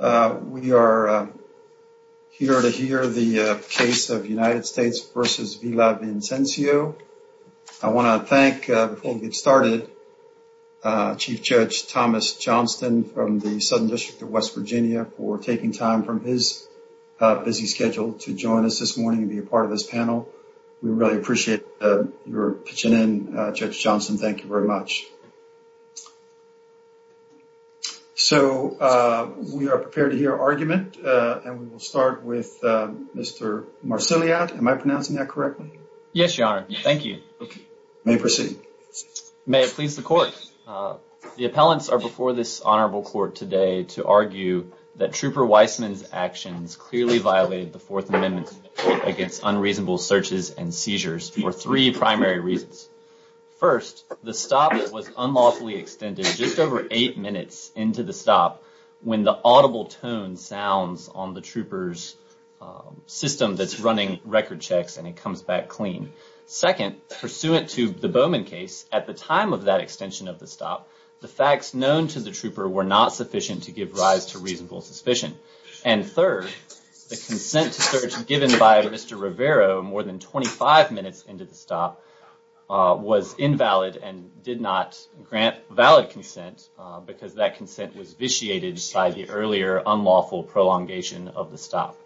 We are here to hear the case of United States v. Villavicencio. I want to thank, before we get started, Chief Judge Thomas Johnston from the Southern District of West Virginia for taking time from his busy schedule to join us this morning and be a part of this panel. We really appreciate your pitching in, Judge Johnston. Thank you very much. We are prepared to hear argument. We will start with Mr. Marsiliad. Am I pronouncing that correctly? Yes, Your Honor. Thank you. You may proceed. May it please the Court. The appellants are before this Honorable Court today to argue that Trooper Weissman's actions clearly violated the Fourth Amendment against unreasonable searches and seizures for three primary reasons. First, the stop was unlawfully extended just over eight minutes into the stop when the audible tone sounds on the trooper's system that's running record checks and it comes back clean. Second, pursuant to the Bowman case, at the time of that extension of the stop, the facts known to the trooper were not sufficient to give rise to reasonable suspicion. And third, the consent to search given by Mr. Rivero more than 25 minutes into the stop was invalid and did not grant valid consent because that consent was vitiated by the earlier unlawful prolongation of the stop.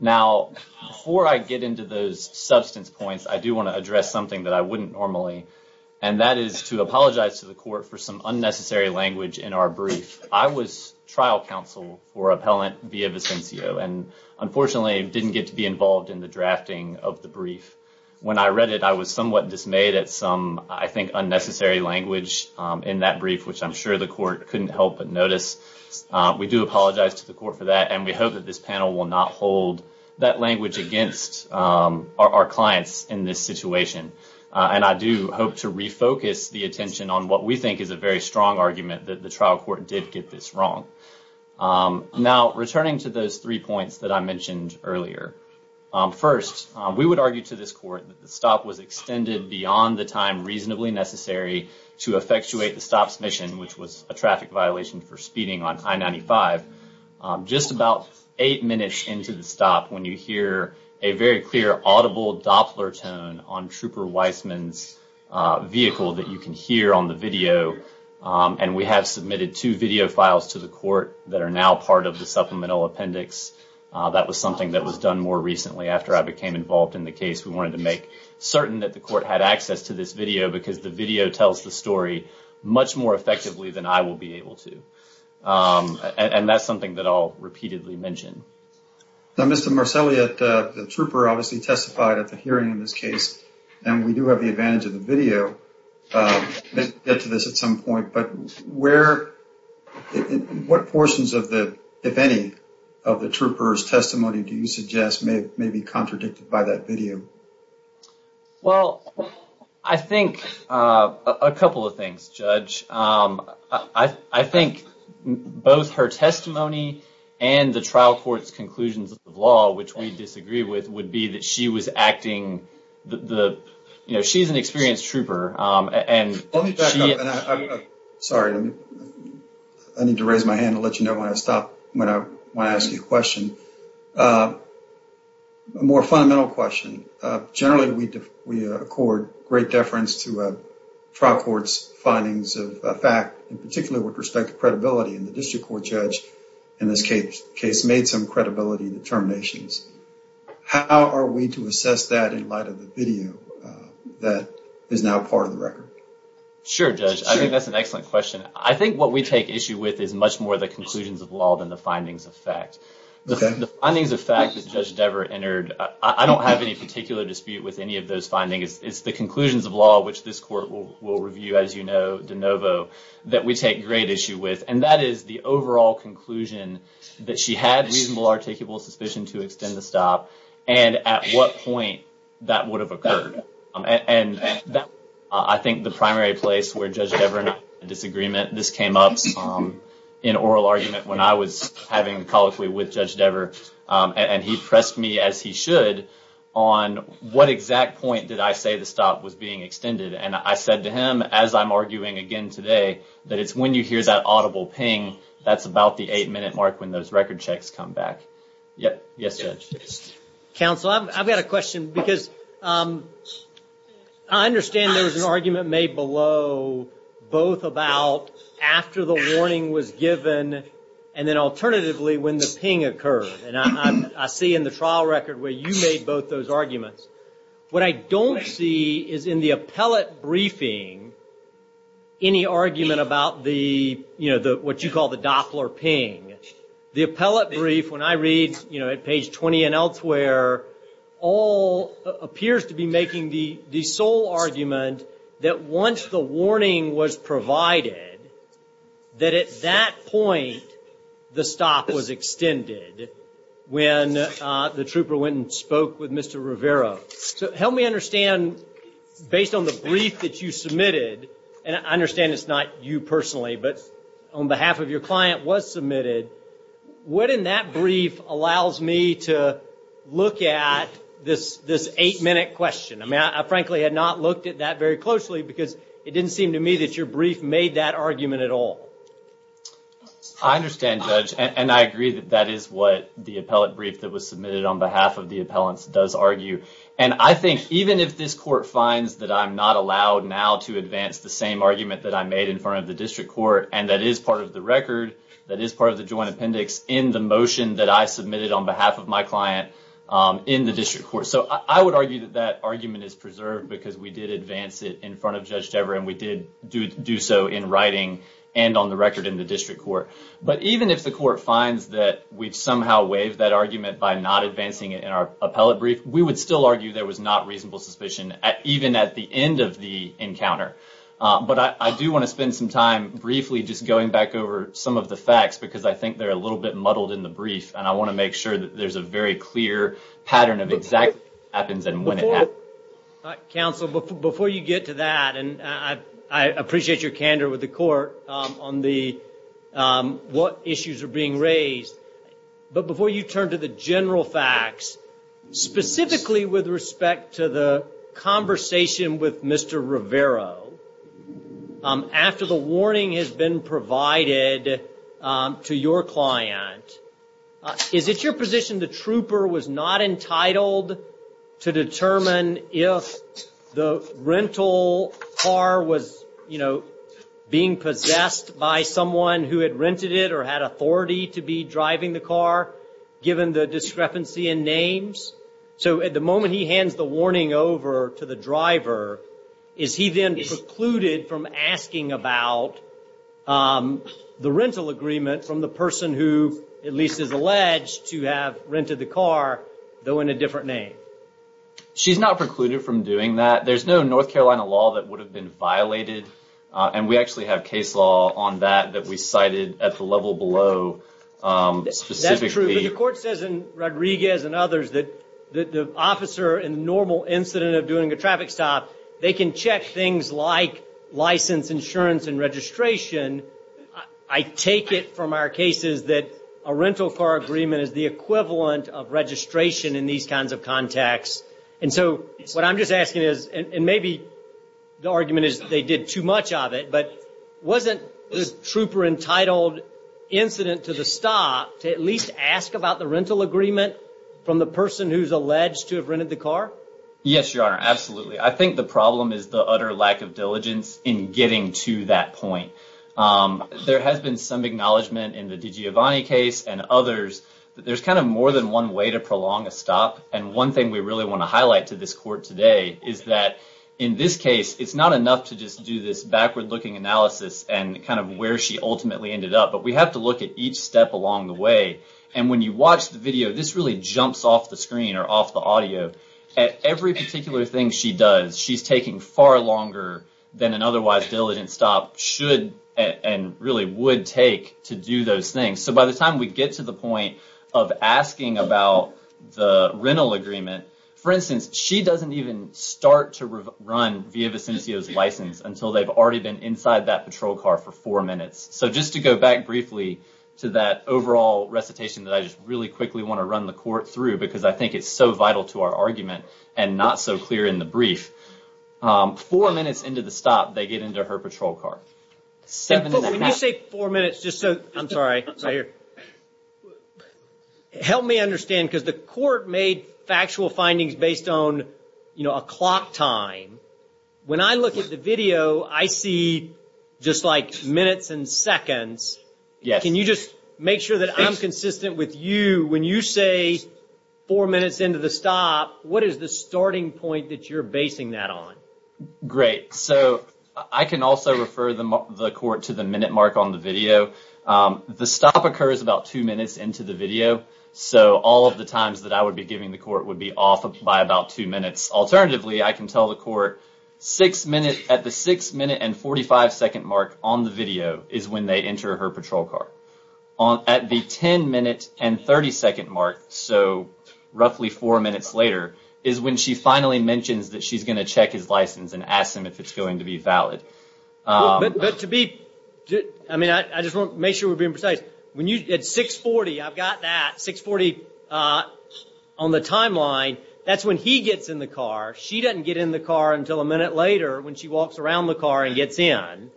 Now, before I get into those substance points, I do want to address something that I wouldn't normally, and that is to apologize to the Court for some via Vicencio. And unfortunately, I didn't get to be involved in the drafting of the brief. When I read it, I was somewhat dismayed at some, I think, unnecessary language in that brief, which I'm sure the Court couldn't help but notice. We do apologize to the Court for that, and we hope that this panel will not hold that language against our clients in this situation. And I do hope to refocus the attention on what we think is a very strong argument, that the trial court did get this wrong. Now, returning to those three points that I mentioned earlier. First, we would argue to this Court that the stop was extended beyond the time reasonably necessary to effectuate the stop's mission, which was a traffic violation for speeding on I-95. Just about eight minutes into the stop, when you hear a very clear, audible doppler tone on Trooper Weissman's vehicle that you can hear on the video, and we have submitted two video files to the Court that are now part of the supplemental appendix. That was something that was done more recently after I became involved in the case. We wanted to make certain that the Court had access to this video, because the video tells the story much more effectively than I will be able to. And that's something that I'll repeatedly mention. Now, Mr. Marcelli, the Trooper obviously testified at the hearing in this case, and we do have the advantage of the video, to get to this at some point. But what portions of the, if any, of the Trooper's testimony do you suggest may be contradicted by that video? Well, I think a couple of things, Judge. I think both her testimony and the trial court's conclusions of law, which we disagree with, would be that she was acting, you know, she's an experienced Trooper. Sorry, I need to raise my hand and let you know when I stop, when I want to ask you a question. A more fundamental question. Generally, we accord great deference to a trial court's findings of fact, and particularly with respect to credibility. And the district court judge in this case made some credibility determinations. How are we to assess that in light of the video that is now part of the record? Sure, Judge. I think that's an excellent question. I think what we take issue with is much more the conclusions of law than the findings of fact. The findings of fact that Judge Devere entered, I don't have any particular dispute with any of those findings. It's the conclusions of law, which this court will review, as you know, de novo, that we take great issue with. And that is the overall conclusion that she had reasonable articulable suspicion to extend the stop, and at what point that would have occurred. And I think the primary place where Judge Devere and I had a disagreement, this came up in oral argument when I was having colloquy with Judge Devere. And he pressed me, as he should, on what exact point did I say the stop was being extended. And I said to him, as I'm arguing again today, that it's when you hear that audible ping, that's about the eight minute mark when those record checks come back. Yes, Judge. Counsel, I've got a question, because I understand there was an argument made below, both about after the warning was given, and then alternatively when the ping occurred. And I see in the trial record where you made both those arguments. What I don't see is in the appellate briefing any argument about the, you know, what you call the Doppler ping. The appellate brief, when I read, you know, at page 20 and elsewhere, all appears to be making the sole argument that once the warning was provided, that at that point the stop was extended when the trooper went and spoke with Mr. Rivera. So help me understand, based on the brief that you submitted, and I understand it's not you personally, but on behalf of your client was submitted, what in that brief allows me to look at this eight minute question? I mean, I frankly had not looked at that very closely, because it didn't seem to me that your brief made that the appellate brief that was submitted on behalf of the appellants does argue. And I think even if this court finds that I'm not allowed now to advance the same argument that I made in front of the district court, and that is part of the record, that is part of the joint appendix, in the motion that I submitted on behalf of my client in the district court. So I would argue that that argument is preserved, because we did advance it in front of Judge Devere, and we did do so in writing and on the record in the district court. But even if the court finds that we've somehow waived that argument by not advancing it in our appellate brief, we would still argue there was not reasonable suspicion, even at the end of the encounter. But I do want to spend some time briefly just going back over some of the facts, because I think they're a little bit muddled in the brief, and I want to make sure that there's a very clear pattern of exactly what happens and when it happens. Counsel, before you get to that, and I appreciate your candor with the court on the what issues are being raised, but before you turn to the general facts, specifically with respect to the conversation with Mr. Rivero, after the warning has been provided to your client, is it your position the trooper was not entitled to determine if the rental car was, you know, being possessed by someone who had rented it or had authority to be driving the car, given the discrepancy in names? So at the moment he hands the warning over to the driver, is he then precluded from asking about the rental agreement from the person who, at least is alleged to have rented the car, though in a different name? She's not precluded from doing that. There's no North Carolina law that would have been violated, and we actually have case law on that that we cited at the level below. That's true, but the court says in Rodriguez and others that the officer in the normal incident of a traffic stop, they can check things like license, insurance, and registration. I take it from our cases that a rental car agreement is the equivalent of registration in these kinds of contexts, and so what I'm just asking is, and maybe the argument is they did too much of it, but wasn't the trooper entitled incident to the stop to at least ask about the rental agreement from the person who's alleged to have rented the car? Yes, Your Honor, absolutely. I think the problem is the utter lack of diligence in getting to that point. There has been some acknowledgement in the DiGiovanni case and others that there's kind of more than one way to prolong a stop, and one thing we really want to highlight to this court today is that in this case, it's not enough to just do this backward-looking analysis and kind of where she ultimately ended up, but we have to look at each step along the way, and when you watch the jumps off the screen or off the audio, at every particular thing she does, she's taking far longer than an otherwise diligent stop should and really would take to do those things. So by the time we get to the point of asking about the rental agreement, for instance, she doesn't even start to run Via Vicencio's license until they've already been inside that patrol car for four minutes. So just to go back briefly to that overall recitation that I just quickly want to run the court through because I think it's so vital to our argument and not so clear in the brief, four minutes into the stop, they get into her patrol car. When you say four minutes, just so, I'm sorry, right here, help me understand because the court made factual findings based on, you know, a clock time. When I look at the video, I see just like minutes and seconds. Can you just make sure that I'm when you say four minutes into the stop, what is the starting point that you're basing that on? Great. So I can also refer the court to the minute mark on the video. The stop occurs about two minutes into the video. So all of the times that I would be giving the court would be off by about two minutes. Alternatively, I can tell the court six minutes at the six minute and forty five second mark on the video is when they enter her patrol car. At the ten minute and thirty second mark, so roughly four minutes later, is when she finally mentions that she's going to check his license and ask him if it's going to be valid. But to be, I mean, I just want to make sure we're being precise. When you, at 640, I've got that, 640 on the timeline, that's when he gets in the car. She doesn't get in the car until a minute later when she walks around the car and gets in.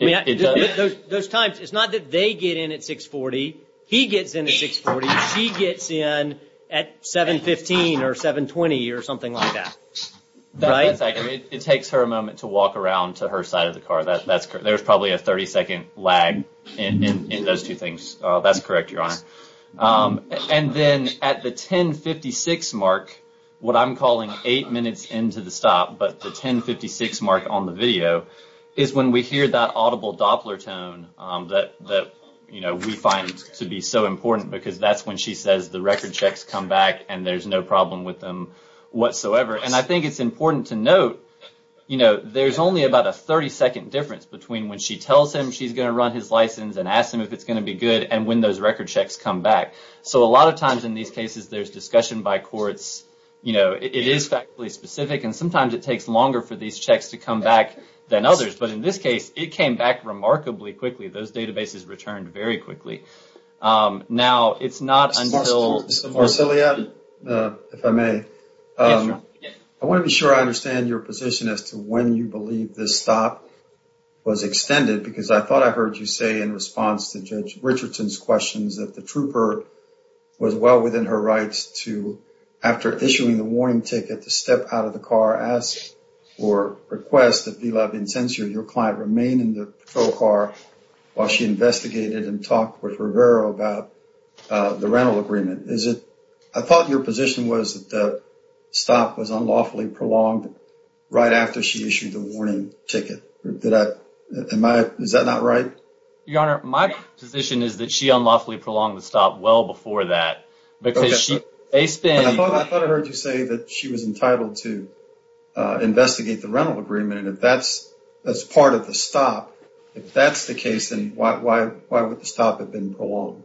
Those times, it's not that they get in at 640. He gets in at 640. She gets in at 715 or 720 or something like that. It takes her a moment to walk around to her side of the car. That's correct. There's probably a 30 second lag in those two things. That's correct, Your Honor. And then at the 1056 mark, what I'm on the video is when we hear that audible Doppler tone that, you know, we find to be so important because that's when she says the record checks come back and there's no problem with them whatsoever. And I think it's important to note, you know, there's only about a 30 second difference between when she tells him she's going to run his license and ask him if it's going to be good and when those record checks come back. So a lot of times in these cases, there's discussion by courts. You know, it is factually specific and sometimes it takes longer for these checks to come back than others. But in this case, it came back remarkably quickly. Those databases returned very quickly. Now, it's not until... Mr. Farsiliad, if I may, I want to be sure I understand your position as to when you believe this stop was extended because I thought I heard you say in response to Judge Richardson's questions that the trooper was well within her rights to after issuing the warning ticket to step out of the car ask or request that VLAB incensor your client remain in the patrol car while she investigated and talked with Rivera about the rental agreement. Is it... I thought your position was that the stop was unlawfully prolonged right after she issued the warning ticket. Did I... Am I... Is that not right? Your Honor, my position is that she unlawfully prolonged the stop well before that because she... I thought I heard you say that she was entitled to investigate the rental agreement. If that's part of the stop, if that's the case, then why would the stop have been prolonged?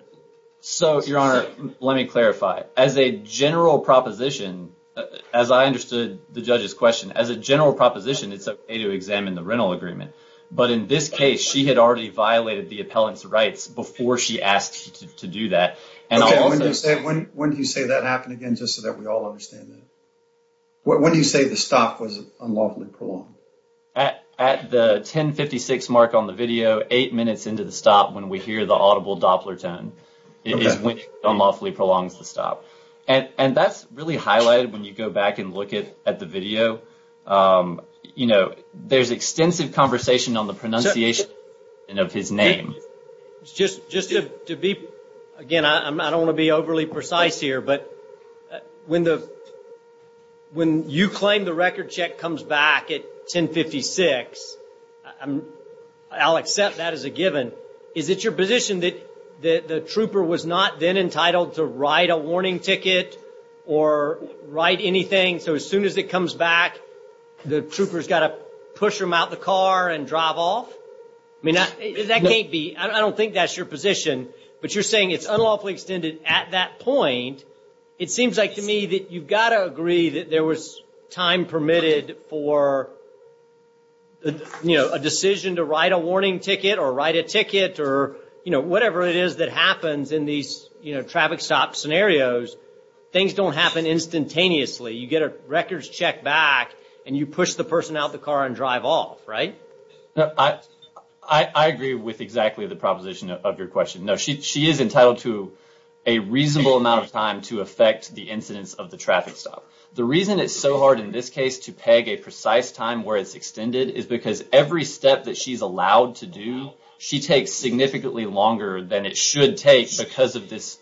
So, your Honor, let me clarify. As a general proposition, as I understood the judge's question, as a general proposition, it's okay to examine the rental agreement. But in this case, she had already violated the appellant's rights before she asked you to do that. Okay. When do you say that happened again just so that we all understand that? When do you say the stop was unlawfully prolonged? At the 10 56 mark on the video, eight minutes into the stop when we hear the audible doppler tone. It is when it unlawfully prolongs the stop. And that's really highlighted when you go back and look at the video. You know, there's extensive conversation on the pronunciation of his name. Just to be... Again, I don't want to be overly precise here, but when you claim the record check comes back at 10 56, I'll accept that as a given. Is it your position that the trooper was not then entitled to write a warning ticket or write anything so as soon as it comes back, the trooper's got to push them out of the car and drive off? I mean, that can't be... I don't think that's your position. But you're saying it's unlawfully extended at that point. It seems like to me that you've got to agree that there was time permitted for a decision to write a warning ticket or write a ticket or whatever it is that happens in these cases. The records check back and you push the person out of the car and drive off, right? I agree with exactly the proposition of your question. No, she is entitled to a reasonable amount of time to affect the incidence of the traffic stop. The reason it's so hard in this case to peg a precise time where it's extended is because every step that she's allowed to do, she takes significantly longer than it should take because of this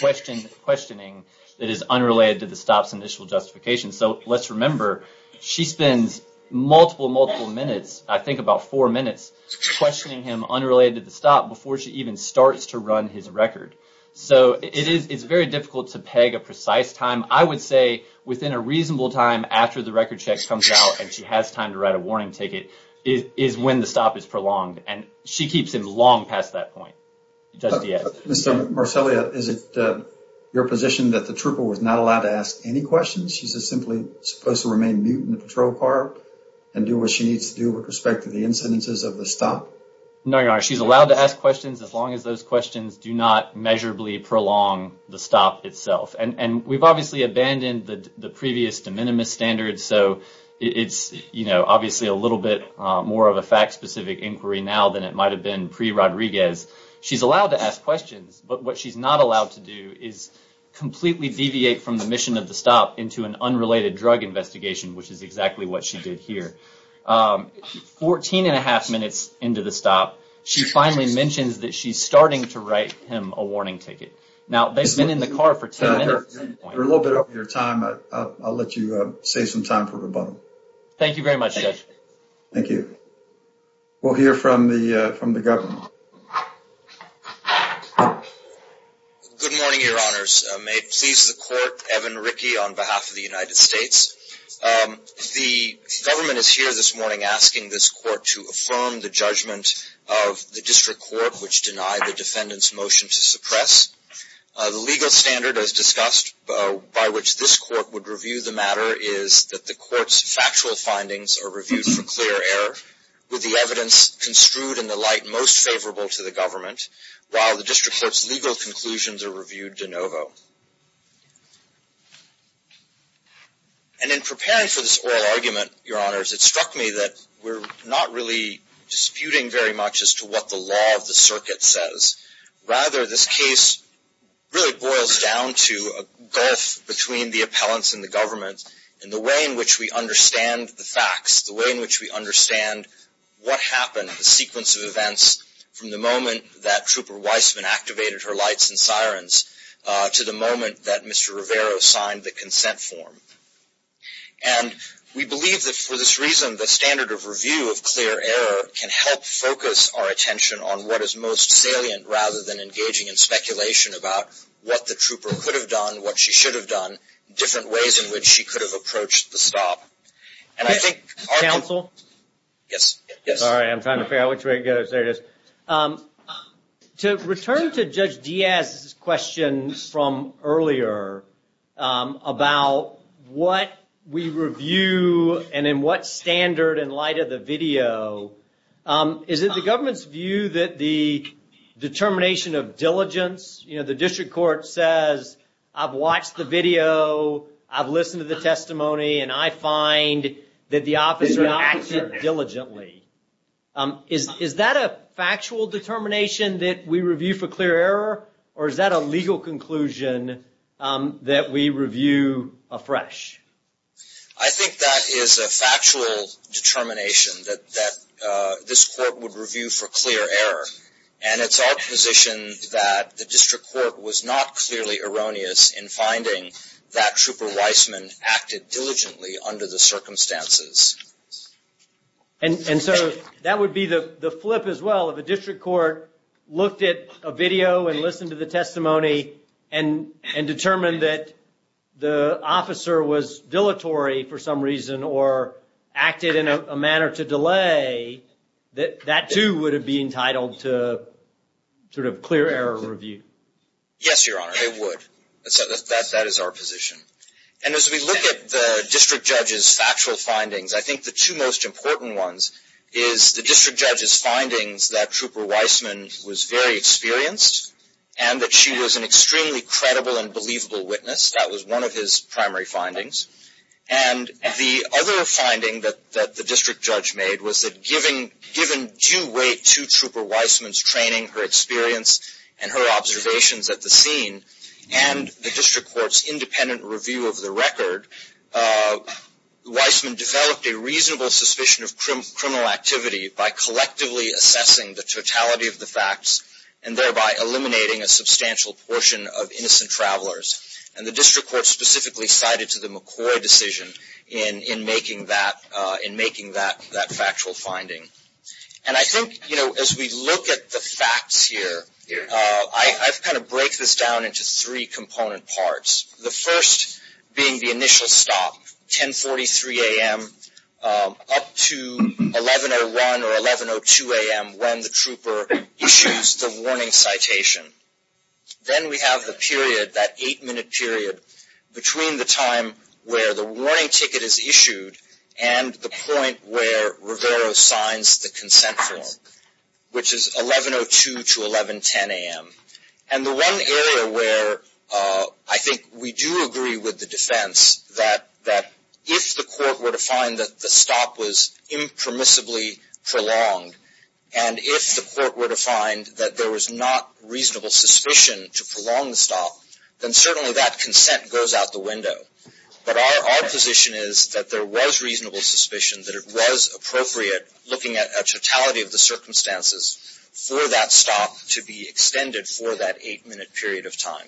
questioning that is unrelated to the stop's initial justification. So, let's remember, she spends multiple, multiple minutes, I think about four minutes, questioning him unrelated to the stop before she even starts to run his record. So, it's very difficult to peg a precise time. I would say within a reasonable time after the record check comes out and she has time to write a warning ticket is when the stop is prolonged. And she keeps him long past that point just yet. Mr. Marcellia, is it your position that the trooper was not allowed to ask any questions? She's just simply supposed to remain mute in the patrol car and do what she needs to do with respect to the incidences of the stop? No, she's allowed to ask questions as long as those questions do not measurably prolong the stop itself. And we've obviously abandoned the previous de minimis standards. So, it's, you know, obviously a little bit more of a fact-specific inquiry now than it might have been pre-Rodriguez. She's allowed to ask questions, but what she's not allowed to do is completely deviate from the mission of the stop into an unrelated drug investigation, which is exactly what she did here. Fourteen and a half minutes into the stop, she finally mentions that she's starting to write him a warning ticket. Now, they've been in the car for ten minutes at this point. We're a little bit over your time. I'll let you save some time for we'll hear from the from the government. Good morning, your honors. May it please the court, Evan Rickey on behalf of the United States. The government is here this morning asking this court to affirm the judgment of the district court which denied the defendant's motion to suppress. The legal standard as discussed by which this court would review the matter is that the court's factual findings are reviewed for clear error, with the evidence construed in the light most favorable to the government, while the district court's legal conclusions are reviewed de novo. And in preparing for this oral argument, your honors, it struck me that we're not really disputing very much as to what the law of the circuit says. Rather, this case really boils down to a gulf between the appellants and the government, and the way in which we understand the facts, the way in which we understand what happened, the sequence of events from the moment that Trooper Weissman activated her lights and sirens to the moment that Mr. Rivero signed the consent form. And we believe that for this reason, the standard of review of clear error can help focus our attention on what is most salient rather than engaging in speculation about what the trooper could have done, what she should have done, different ways in which she could have approached the stop. And I think... Counsel? Yes, yes. Sorry, I'm trying to figure out which way it goes. There it is. To return to Judge Diaz's question from earlier about what we review and in what standard in light of the video, is it the government's view that the determination of diligence, you know, the district court says, I've watched the video, I've listened to the testimony, and I find that the officer acted diligently. Is that a factual determination that we review for clear error, or is that a legal conclusion that we review afresh? I think that is a factual determination that this court would review for clear error. And it's our position that the district court was not clearly erroneous in finding that Trooper Weissman acted diligently under the circumstances. And so that would be the flip as well, if a district court looked at a video and listened to the testimony and determined that the officer was dilatory for some reason or acted in a manner to delay, that too would have been entitled to sort of clear error review. Yes, Your Honor, it would. That is our position. And as we look at the district judge's factual findings, I think the two most important ones is the district judge's findings that Trooper Weissman was very experienced and that she was an extremely credible and believable witness. That was one of his primary findings. And the other finding that the district judge made was that given due weight to Trooper Weissman's training, her experience, and her observations at the scene, and the district court's independent review of the record, Weissman developed a reasonable suspicion of criminal activity by collectively assessing the totality of the facts and thereby eliminating a substantial portion of innocent travelers. And the district court specifically cited to the McCoy decision in making that factual finding. And I think, you know, as we look at the facts here, I've kind of break this down into three component parts. The first being the initial stop, 1043 a.m. up to 1101 or 1102 a.m. when the trooper issues the warning citation. Then we have the period, that eight-minute period, between the time where the warning ticket is issued and the point where Rivero signs the consent form, which is 1102 to 1110 a.m. And the one area where I think we do agree with the defense that if the court were to find that the stop was impermissibly prolonged and if the court were to find that there was not reasonable suspicion to prolong the stop, then certainly that consent goes out the window. But our position is that there was reasonable suspicion that it was appropriate looking at a totality of the circumstances for that stop to be extended for that eight-minute period of time.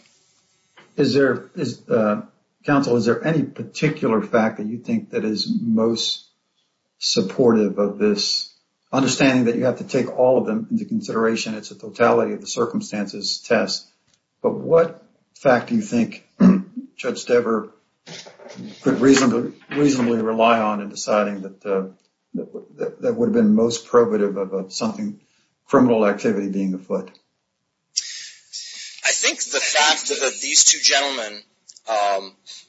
Is there, counsel, is there any particular fact that you think that is most supportive of this understanding that you have to take all of them into consideration? It's a totality of the circumstances test, but what fact do you think Judge Dever could reasonably rely on in deciding that would have been most probative of something criminal activity being afoot? I think the fact that these two gentlemen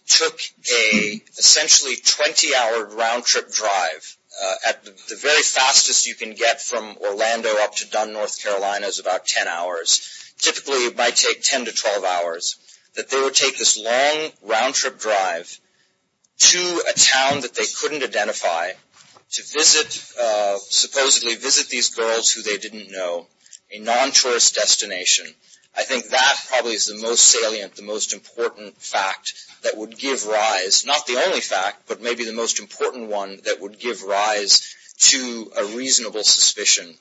took a essentially 20-hour round-trip drive at the very fastest you can get from Orlando up to Dunn, North Carolina is about 10 hours. Typically it might take 10 to 12 hours that they would take this long round-trip drive to a town that they couldn't identify to visit, supposedly visit these girls who they didn't know, a non-tourist destination. I think that probably is the most salient, the most important fact that would give rise, not the only fact, but maybe the most important one that would give rise to a reasonable suspicion.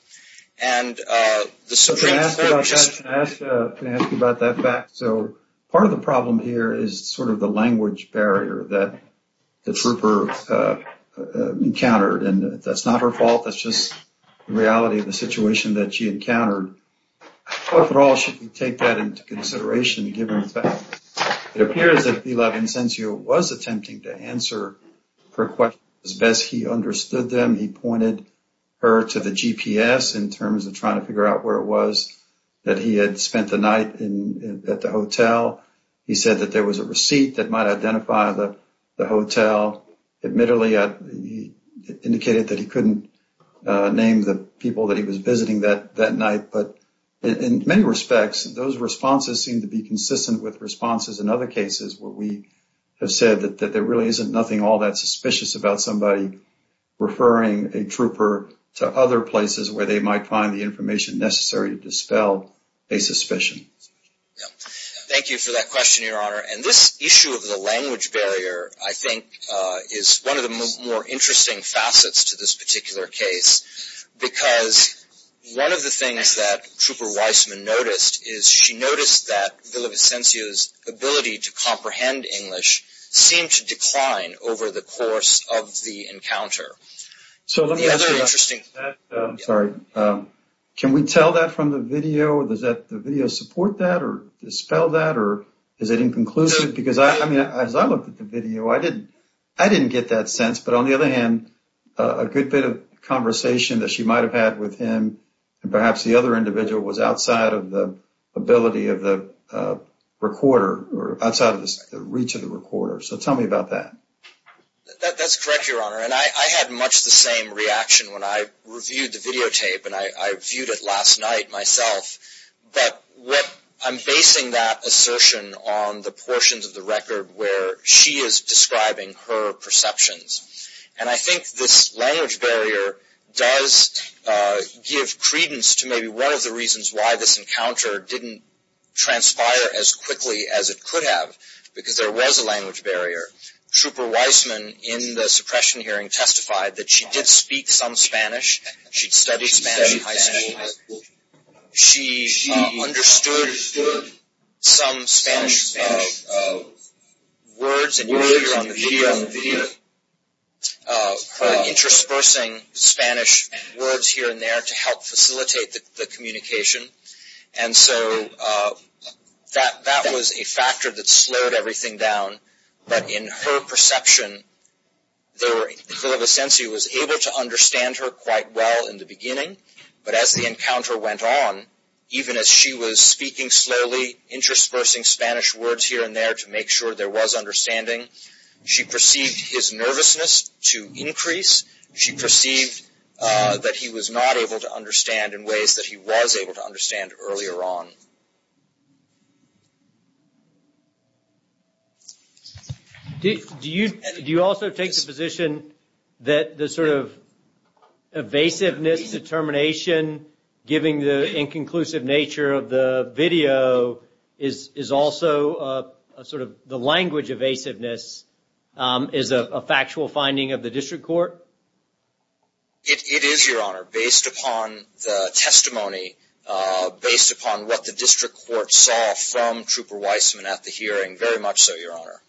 Can I ask you about that fact? Part of the problem here is sort of the language barrier that the trooper encountered. That's not her fault, that's just the reality of the situation that she encountered. What role should we take that into consideration given the fact it appears that Vila Vincencio was attempting to answer her questions as best he understood them. He pointed her to the GPS in terms of trying to figure out where it was that he had spent the night at the hotel. He said that there was a receipt that might identify the hotel. Admittedly, he indicated that he couldn't name the people that he was visiting that night, but in many respects those responses seem to be consistent with responses in other cases where we have said that there really isn't nothing all that suspicious about somebody referring a trooper to other places where they might find the information necessary to dispel a suspicion. Thank you for that question, Your Honor. This issue of the language barrier, I think, is one of the more interesting facets to this particular case because one of the things that she noticed is that Vila Vincencio's ability to comprehend English seemed to decline over the course of the encounter. Can we tell that from the video? Does the video support that or dispel that or is it inconclusive? As I looked at the video, I didn't get that sense, but on the other hand, a good bit of conversation that she might have had with him and perhaps the other individual was outside of the ability of the recorder or outside of the reach of the recorder. Tell me about that. That's correct, Your Honor. I had much the same reaction when I reviewed the videotape and I viewed it last night myself, but I'm basing that assertion on the portions of the record where she is describing her perceptions. I think this language barrier does give credence to maybe one the reasons why this encounter didn't transpire as quickly as it could have because there was a language barrier. Trooper Weissman in the suppression hearing testified that she did speak some Spanish. She'd studied Spanish in high school. She understood some Spanish words and images on the video. Her interspersing Spanish words here and there to help facilitate the communication and so that was a factor that slowed everything down, but in her perception, there was a sense he was able to understand her quite well in the beginning, but as the encounter went on, even as she was speaking slowly, interspersing Spanish words here and there to make sure there was understanding, she perceived his nervousness to increase. She perceived that he was not able to understand in ways that he was able to understand earlier on. Do you also take the position that the sort of evasiveness, determination, giving the inconclusive nature of the language evasiveness is a factual finding of the district court? It is, Your Honor, based upon the testimony, based upon what the district court saw from Trooper Weissman at the hearing, very much so, Your Honor.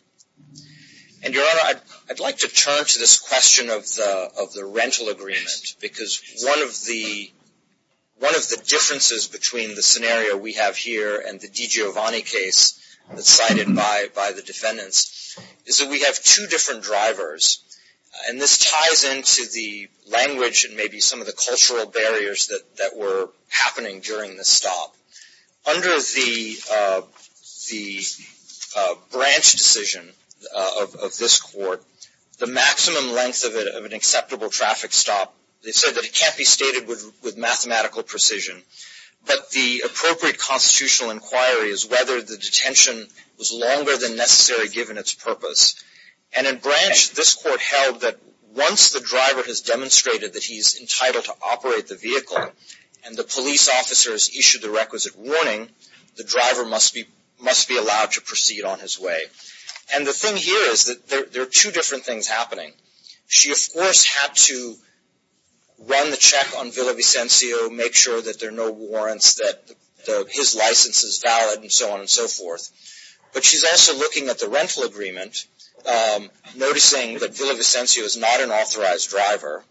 And Your Honor, I'd like to turn to this question of the rental agreement because one of the differences between the scenario we have here and the DiGiovanni case that's cited by the defendants is that we have two different drivers and this ties into the language and maybe some of the cultural barriers that were happening during this stop. Under the branch decision of this court, the maximum length of an acceptable traffic stop, they said that it can't be stated with mathematical precision, but the appropriate constitutional inquiry is whether the detention was longer than necessary given its purpose. And in branch, this court held that once the driver has demonstrated that he's entitled to operate the vehicle and the police officers issued the requisite warning, the driver must be allowed to proceed on his way. And the thing here is that there are two different things happening. She, of course, had to run the check on Villavicencio, make sure that there are no warrants, that his license is valid, and so on and so forth. But she's also looking at the rental agreement, noticing that Villavicencio is not an authorized driver.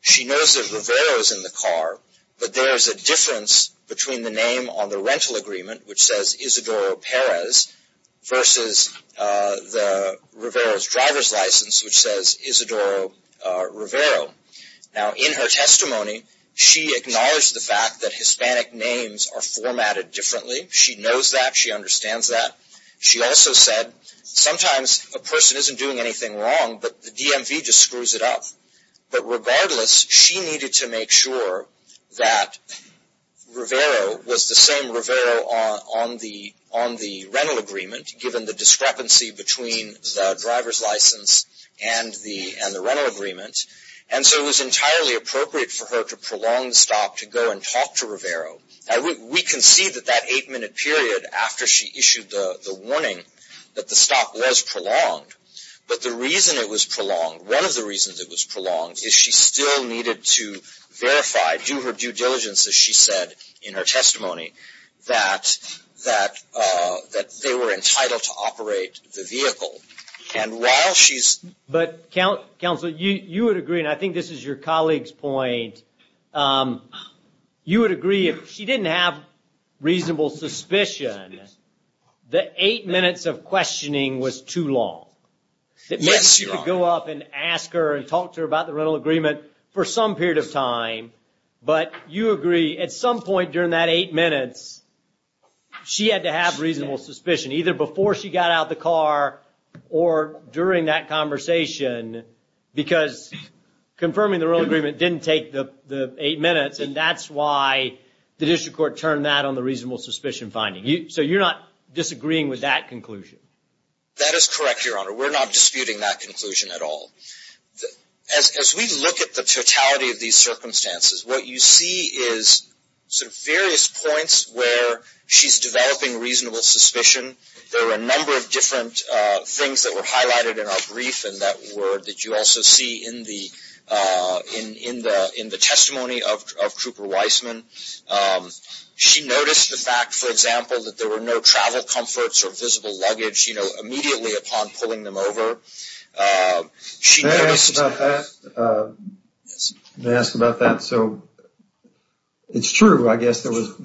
She knows that Rivera is in the car, but there's a difference between the name on the rental agreement, which says Isidoro Perez, versus the Rivera's driver's license, which says Isidoro Rivero. Now, in her testimony, she acknowledged the fact that Hispanic names are formatted differently. She knows that. She understands that. She also said, sometimes a person isn't doing anything wrong, but the DMV just screws it up. But regardless, she needed to make sure that Rivero was the same Rivero on the rental agreement, given the discrepancy between the driver's license and the rental agreement. And so it was entirely appropriate for her to prolong the stop to go and talk to Rivero. We can see that that eight-minute period after she issued the warning, that the stop was prolonged. But the reason it was prolonged, one of the reasons it was prolonged, is she still needed to verify, due to her due diligence, as she said in her testimony, that they were entitled to operate the vehicle. And while she's... But counsel, you would agree, and I think this is your colleague's point, you would agree, if she didn't have reasonable suspicion, the eight minutes of questioning was too long. Yes, Your Honor. It meant she could go up and ask her and talk to her about the rental agreement for some period of time. But you agree, at some point during that eight minutes, she had to have reasonable suspicion, either before she got out of the car or during that conversation, because confirming the rental agreement didn't take the eight minutes, and that's why the district court turned that on the reasonable suspicion finding. So you're not disagreeing with that conclusion? That is correct, Your Honor. We're not disputing that conclusion at all. As we look at the totality of these circumstances, what you see is sort of various points where she's developing reasonable suspicion. There were a number of different things that were highlighted in our brief, and that you also see in the testimony of Trooper Weissman. She noticed the fact, for example, that there were no travel comforts or visible luggage, you know, immediately upon pulling them over. May I ask about that? May I ask about that? So it's true, I guess, there was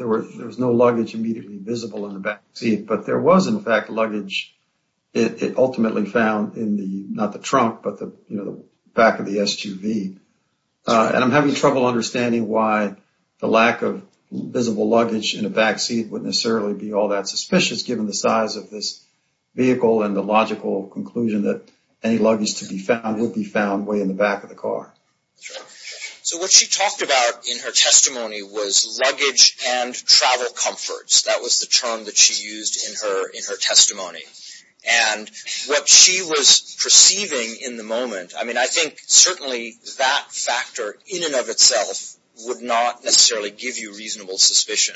no luggage immediately visible in the back seat, but there was, in fact, luggage ultimately found in the, not the trunk, but the back of the SUV. And I'm having trouble understanding why the lack of visible luggage in the back seat wouldn't necessarily be all that suspicious, given the size of this vehicle and the logical conclusion that any luggage to be found would be found way in the back of the car. So what she talked about in her testimony was luggage and travel comforts. That was the term that she used in her testimony. And what she was perceiving in the moment, I mean, I think certainly that factor in and of itself would not necessarily give you reasonable suspicion.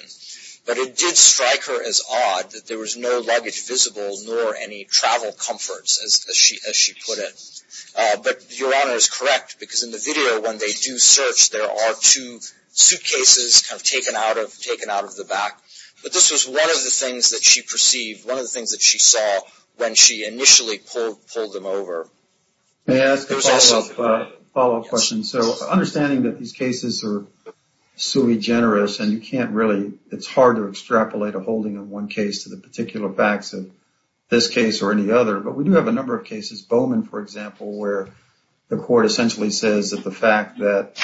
But it did strike her as odd that there was no luggage visible, nor any travel comforts, as she put it. But Your Honor is correct, because in the video, when they do search, there are two suitcases taken out of the back. But this was one of the things that she perceived, one of the things that she saw when she initially pulled them over. May I ask a follow-up question? So understanding that these cases are sui generis, and you can't really, it's hard to extrapolate a holding of one case to the particular facts of this case or any other, but we do have a number of cases, Bowman, for example, where the court essentially says that the fact that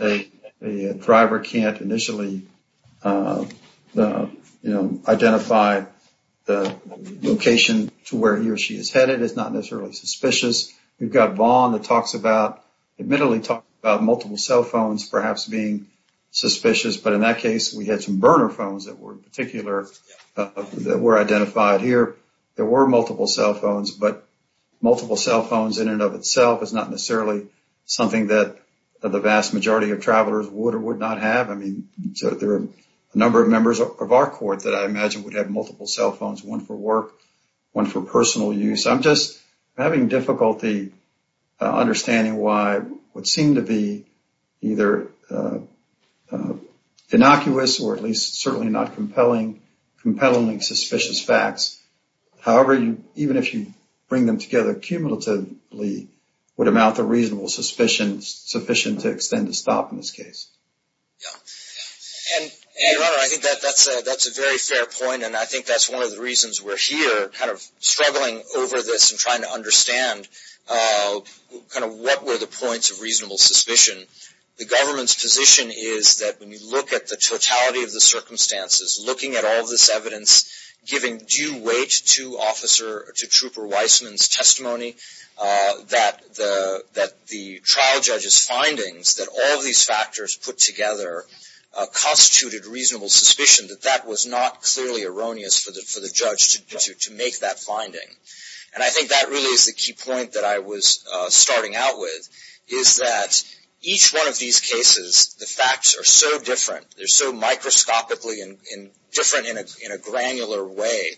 a driver can't initially, you know, identify the location to where he or she is headed is not necessarily suspicious. We've got Vaughn that talks about, admittedly talks about multiple cell phones perhaps being suspicious. But in that case, we had some burner phones that were particular, that were identified here. There were multiple cell phones, but multiple cell phones in and of itself is not necessarily something that the vast majority of travelers would or would not have. I mean, so there are a number of members of our court that I imagine would have multiple cell phones, one for work, one for personal use. I'm just having difficulty understanding why what seemed to be either innocuous or at least certainly not compelling, compellingly suspicious facts, however, even if you bring them together cumulatively, would amount to reasonable sufficient to extend the stop in this case. Your Honor, I think that's a very fair point, and I think that's one of the reasons we're here, kind of struggling over this and trying to understand kind of what were the points of reasonable suspicion. The government's position is that when you look at the totality of the circumstances, looking at all this evidence, giving due weight to Officer, to Trooper Weissman's testimony, that the trial judge's findings, that all of these factors put together, constituted reasonable suspicion that that was not clearly erroneous for the judge to make that finding. And I think that really is the key point that I was starting out with, is that each one of these cases, the facts are so different, they're so microscopically different in a granular way,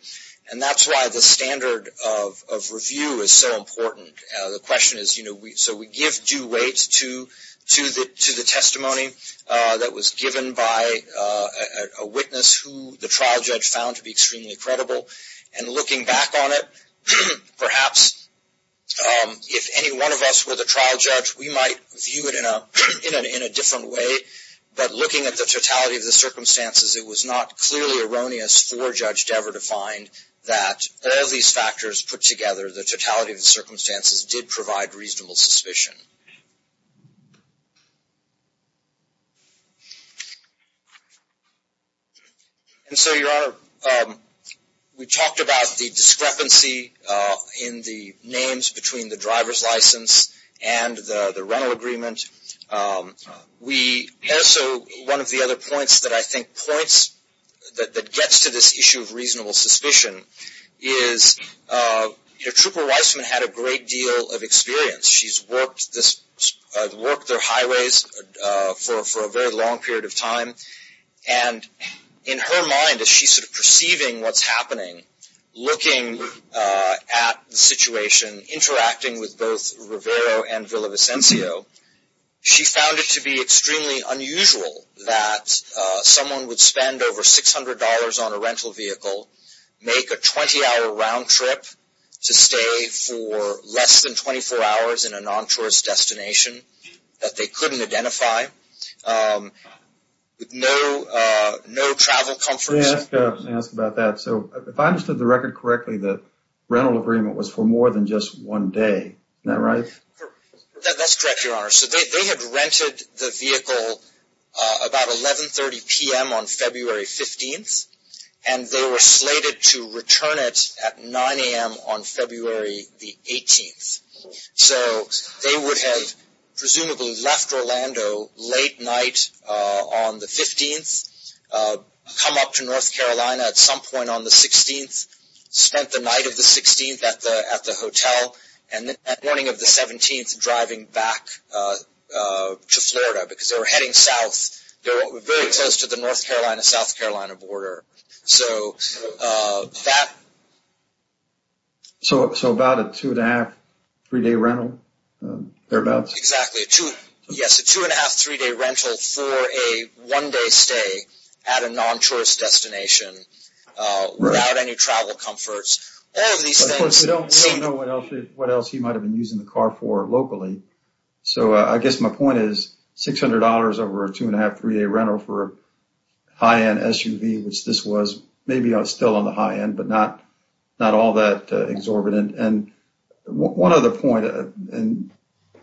and that's why the standard of review is so important. The question is, you know, so we give due weight to the testimony that was given by a witness who the trial judge found to be extremely credible, and looking back on it, perhaps if any one of us were the trial judge, we might view it in a different way, but looking at the totality of the circumstances, it was not clearly erroneous for Judge Dever to find that all these factors put together, the totality of the circumstances did provide reasonable suspicion. And so, Your Honor, we talked about the discrepancy in the names between the driver's license and the rental agreement. We also, one of the other points that I think points, that gets to this issue of reasonable suspicion, is Trooper Weissman had a great deal of experience. She's worked their highways for a very long period of time, and in her mind, as she's sort of perceiving what's happening, looking at the situation, interacting with both Rivero and Villavicencio, she found it to be extremely unusual that someone would spend over $600 on a rental vehicle, make a 20-hour round trip to stay for less than 24 hours in a non-tourist destination that they couldn't identify, with no travel comforts. Let me ask about that. So, if I understood the record correctly, the rental agreement was for more than just one day, is that right? That's correct, Your Honor. So, they had rented the vehicle about 11.30 p.m. on February 15th, and they were slated to return it at 9 a.m. on February the 18th. So, they would have presumably left Orlando late night on the 15th, come up to North Carolina at some point on the 16th, spent the night of the 16th at the hotel, and the morning of the 17th driving back to Florida, because they were heading south. They were very close to the North Carolina-South Carolina border. So, about a two-and-a-half, three-day rental? Exactly. Yes, a two-and-a-half, three-day rental for a one-day stay at a non-tourist destination without any travel comforts. Of course, we don't know what else he might have been using the car for locally. So, I guess my point is $600 over a two-and-a-half, three-day rental for a high-end SUV, which this was maybe still on the high end, but not all that exorbitant. One other point, and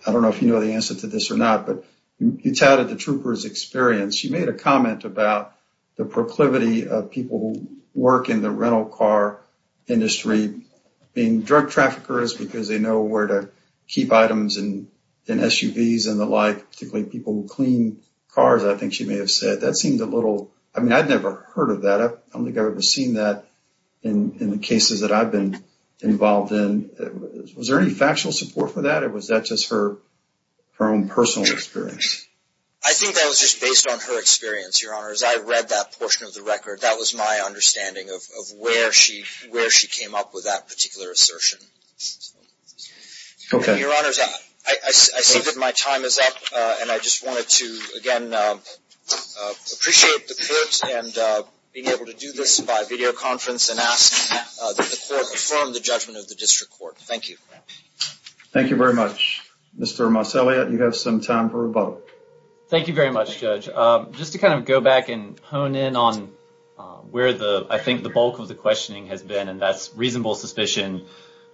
I don't know if you know the answer to this or not, but you touted the trooper's experience. She made a comment about the proclivity of people who work in the rental car industry being drug traffickers because they know where to keep items in SUVs and the like, particularly people who clean cars, I think she may have said. I've never heard of that. I don't think I've ever seen that in the cases that I've been involved in. Was there any factual support for that, or was that just her own personal experience? I think that was just based on her experience, Your Honors. I read that portion of the record. That was my understanding of where she came up with that particular assertion. Okay. Your Honors, I see that my time is up, and I just wanted to, again, appreciate the court and being able to do this by videoconference and ask that the court affirm the judgment of the district court. Thank you. Thank you very much. Mr. Marcelliot, you have some time for rebuttal. Thank you very much, Judge. Just to kind of go back and hone in on where I think the bulk of the questioning has been, and that's reasonable suspicion,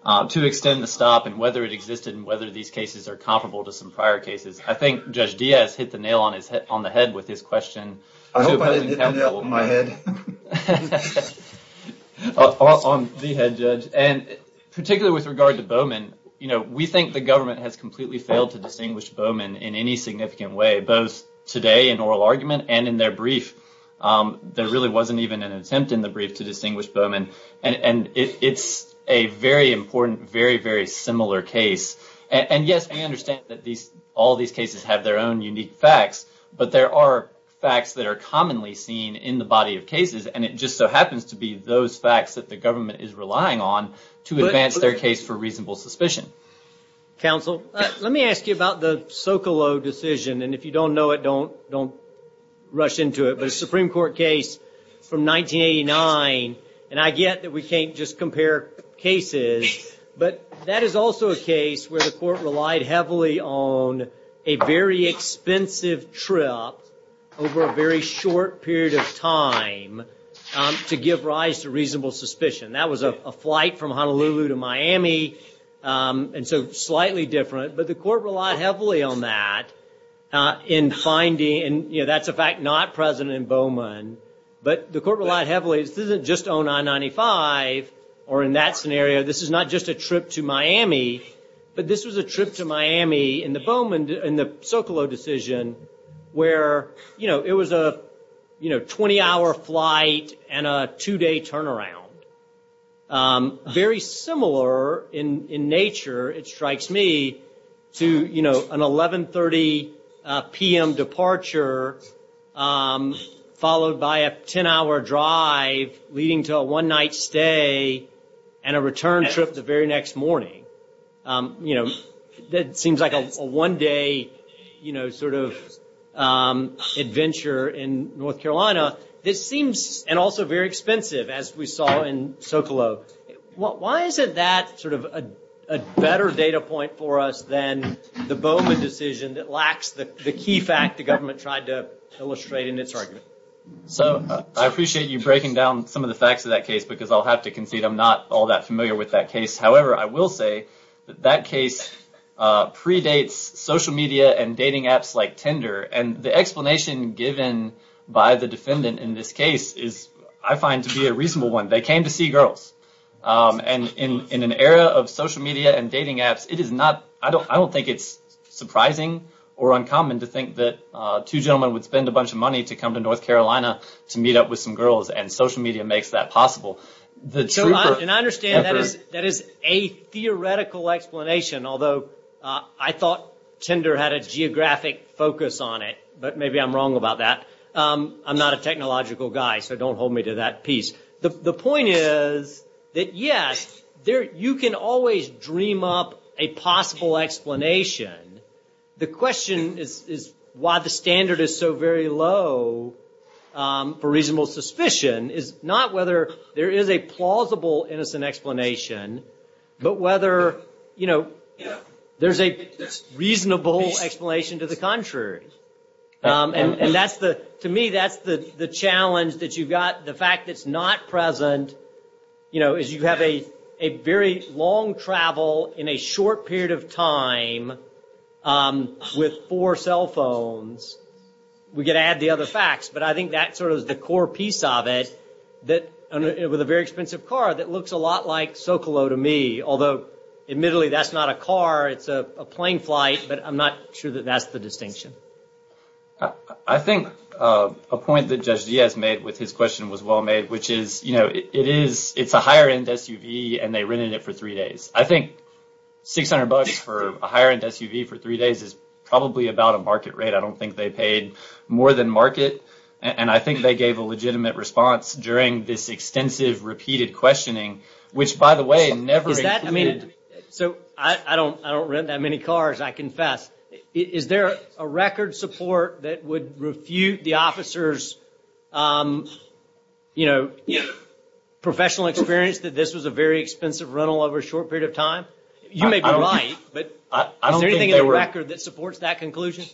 to extend the stop and whether it existed and whether these cases are comparable to some prior cases. I think Judge Diaz hit the nail on the head with his question. I hope I didn't hit the nail on my head. On the head, Judge. Particularly with regard to Bowman, we think the government has completely failed to distinguish Bowman in any significant way, both today in oral argument and in their brief. There really wasn't even an attempt in the brief to distinguish Bowman, and it's a very important, very, very similar case. Yes, we understand that all these cases have their own unique facts, but there are facts that are commonly seen in the body of cases, and it just so happens to be those facts that the government is relying on to advance their case for reasonable suspicion. Counsel, let me ask you about the Socolow decision, and if you don't know it, don't rush into it, but a Supreme Court case from 1989, and I get that we can't just compare cases, but that is also a case where the court relied heavily on a very expensive trip over a very short period of time to give rise to reasonable suspicion. That was a flight from Honolulu to Miami, and so slightly different, but the court relied heavily on that in finding, and that's a fact not present in Bowman, but the court relied heavily, this isn't just 0995, or in that scenario, this is not just a trip to Miami, but this was a trip to Miami in the Socolow decision where it was a 20-hour flight and a two-day turnaround. Very similar in nature, it strikes me, to an 11.30 p.m. departure followed by a 10-hour drive leading to a one-night stay and a return trip the very next morning. That seems like a one-day adventure in North Carolina, and also very expensive, as we saw in Socolow. Why isn't that a better data point for us than the Bowman decision that lacks the key fact the government tried to illustrate in its argument? I appreciate you breaking down some of the facts of that case, because I'll have to concede I'm not all that familiar with that case. However, I will say that that case predates social media and dating apps like Tinder, and the explanation given by the defendant in this case is, I find, to be a reasonable one. They came to see girls, and in an era of social media and dating apps, I don't think it's surprising or uncommon to think that two gentlemen would spend a bunch of money to come to North Carolina to meet up with some girls, and social media makes that possible. And I understand that is a theoretical explanation, although I thought Tinder had a geographic focus on it, but maybe I'm wrong about that. I'm not a technological guy, so don't hold me to that piece. The point is that, yes, you can always dream up a possible explanation. The question is why the standard is so very low for reasonable suspicion. It's not whether there is a plausible, innocent explanation, but whether there's a reasonable explanation to the contrary. And to me, that's the challenge that you've got. The fact that it's not present, you know, is you have a very long travel in a short period of time with four cell phones. We could add the other facts, but I think that's sort of the core piece of it, with a very expensive car that looks a lot like Socolow to me, although admittedly that's not a car, it's a plane flight, but I'm not sure that that's the distinction. I think a point that Judge Diaz made with his question was well made, which is, you know, it's a higher-end SUV and they rented it for three days. I think $600 for a higher-end SUV for three days is probably about a market rate. I don't think they paid more than market, and I think they gave a legitimate response during this extensive, repeated questioning, which, by the way, never included... So I don't rent that many cars, I confess. Is there a record support that would refute the officer's professional experience that this was a very expensive rental over a short period of time? You may be right, but is there anything in the record that supports that conclusion?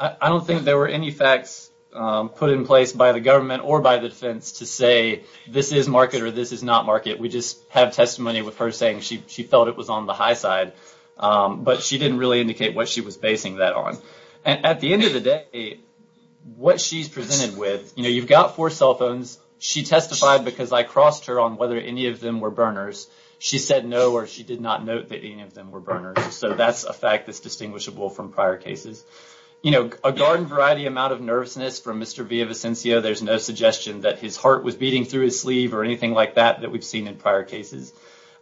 I don't think there were any facts put in place by the government or by the defense to say this is market or this is not market. We just have testimony with her saying she felt it was on the high side, but she didn't really indicate what she was basing that on. At the end of the day, what she's presented with, you know, you've got four cell phones. She testified because I crossed her on whether any of them were burners. She said no or she did not note that any of them were burners, so that's a fact that's distinguishable from prior cases. You know, a garden variety amount of nervousness from Mr. Villavicencio, there's no suggestion that his heart was beating through his sleeve or anything like that that we've seen in prior cases.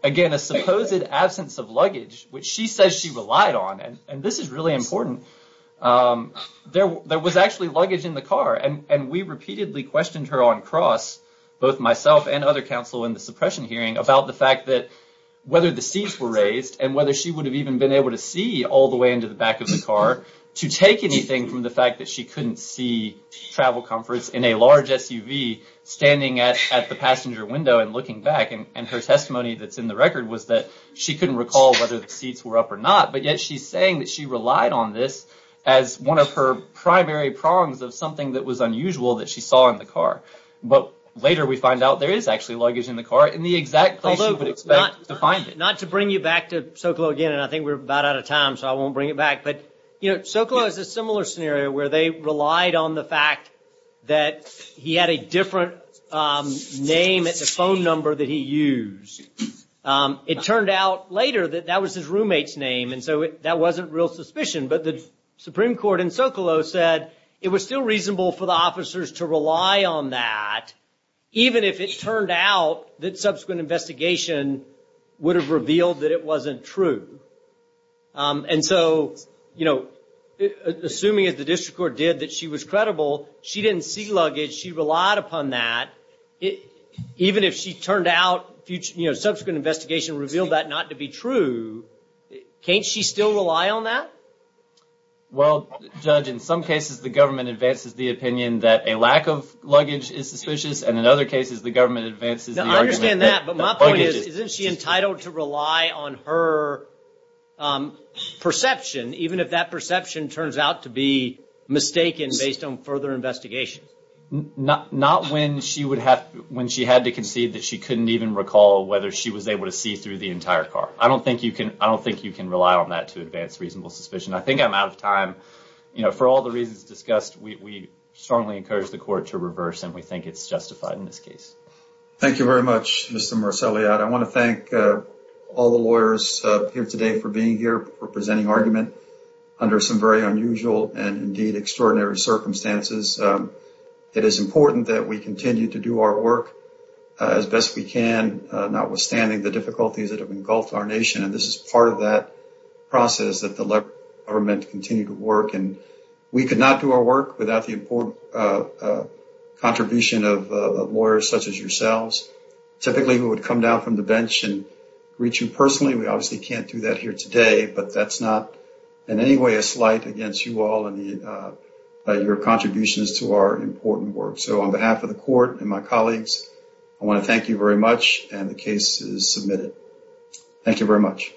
Again, a supposed absence of luggage, which she says she relied on, and this is really important, there was actually luggage in the car. And we repeatedly questioned her on cross, both myself and other counsel in the suppression hearing, about the fact that whether the seats were raised and whether she would have even been able to see all the way into the back of the car to take anything from the fact that she couldn't see travel comforts in a large SUV standing at the passenger window and looking back. And her testimony that's in the record was that she couldn't recall whether the seats were up or not, but yet she's saying that she relied on this as one of her primary prongs of something that was unusual that she saw in the car. But later we find out there is actually luggage in the car in the exact place she would expect to find it. Not to bring you back to Socolow again, and I think we're about out of time, so I won't bring it back, but Socolow has a similar scenario where they relied on the fact that he had a different name at the phone number that he used. It turned out later that that was his roommate's name, and so that wasn't real suspicion. But the Supreme Court in Socolow said it was still reasonable for the officers to rely on that, even if it turned out that subsequent investigation would have revealed that it wasn't true. And so, you know, assuming that the district court did that she was credible, she didn't see luggage, she relied upon that, even if she turned out subsequent investigation revealed that not to be true, can't she still rely on that? Well, Judge, in some cases the government advances the opinion that a lack of luggage is suspicious, and in other cases the government advances the argument that luggage is suspicious. I understand that, but my point is, isn't she entitled to rely on her perception, even if that perception turns out to be mistaken based on further investigation? Not when she had to concede that she couldn't even recall whether she was able to see through the entire car. I don't think you can rely on that to advance reasonable suspicion. I think I'm out of time. You know, for all the reasons discussed, we strongly encourage the court to reverse, and we think it's justified in this case. Thank you very much, Mr. Marcelliot. I want to thank all the lawyers here today for being here, for presenting argument under some very unusual and, indeed, extraordinary circumstances. It is important that we continue to do our work as best we can, notwithstanding the difficulties that have engulfed our nation, and this is part of that process, that the government continue to work. We could not do our work without the contribution of lawyers such as yourselves. Typically, we would come down from the bench and greet you personally. We obviously can't do that here today, but that's not in any way a slight against you all and your contributions to our important work. So, on behalf of the court and my colleagues, I want to thank you very much, and the case is submitted. Thank you very much.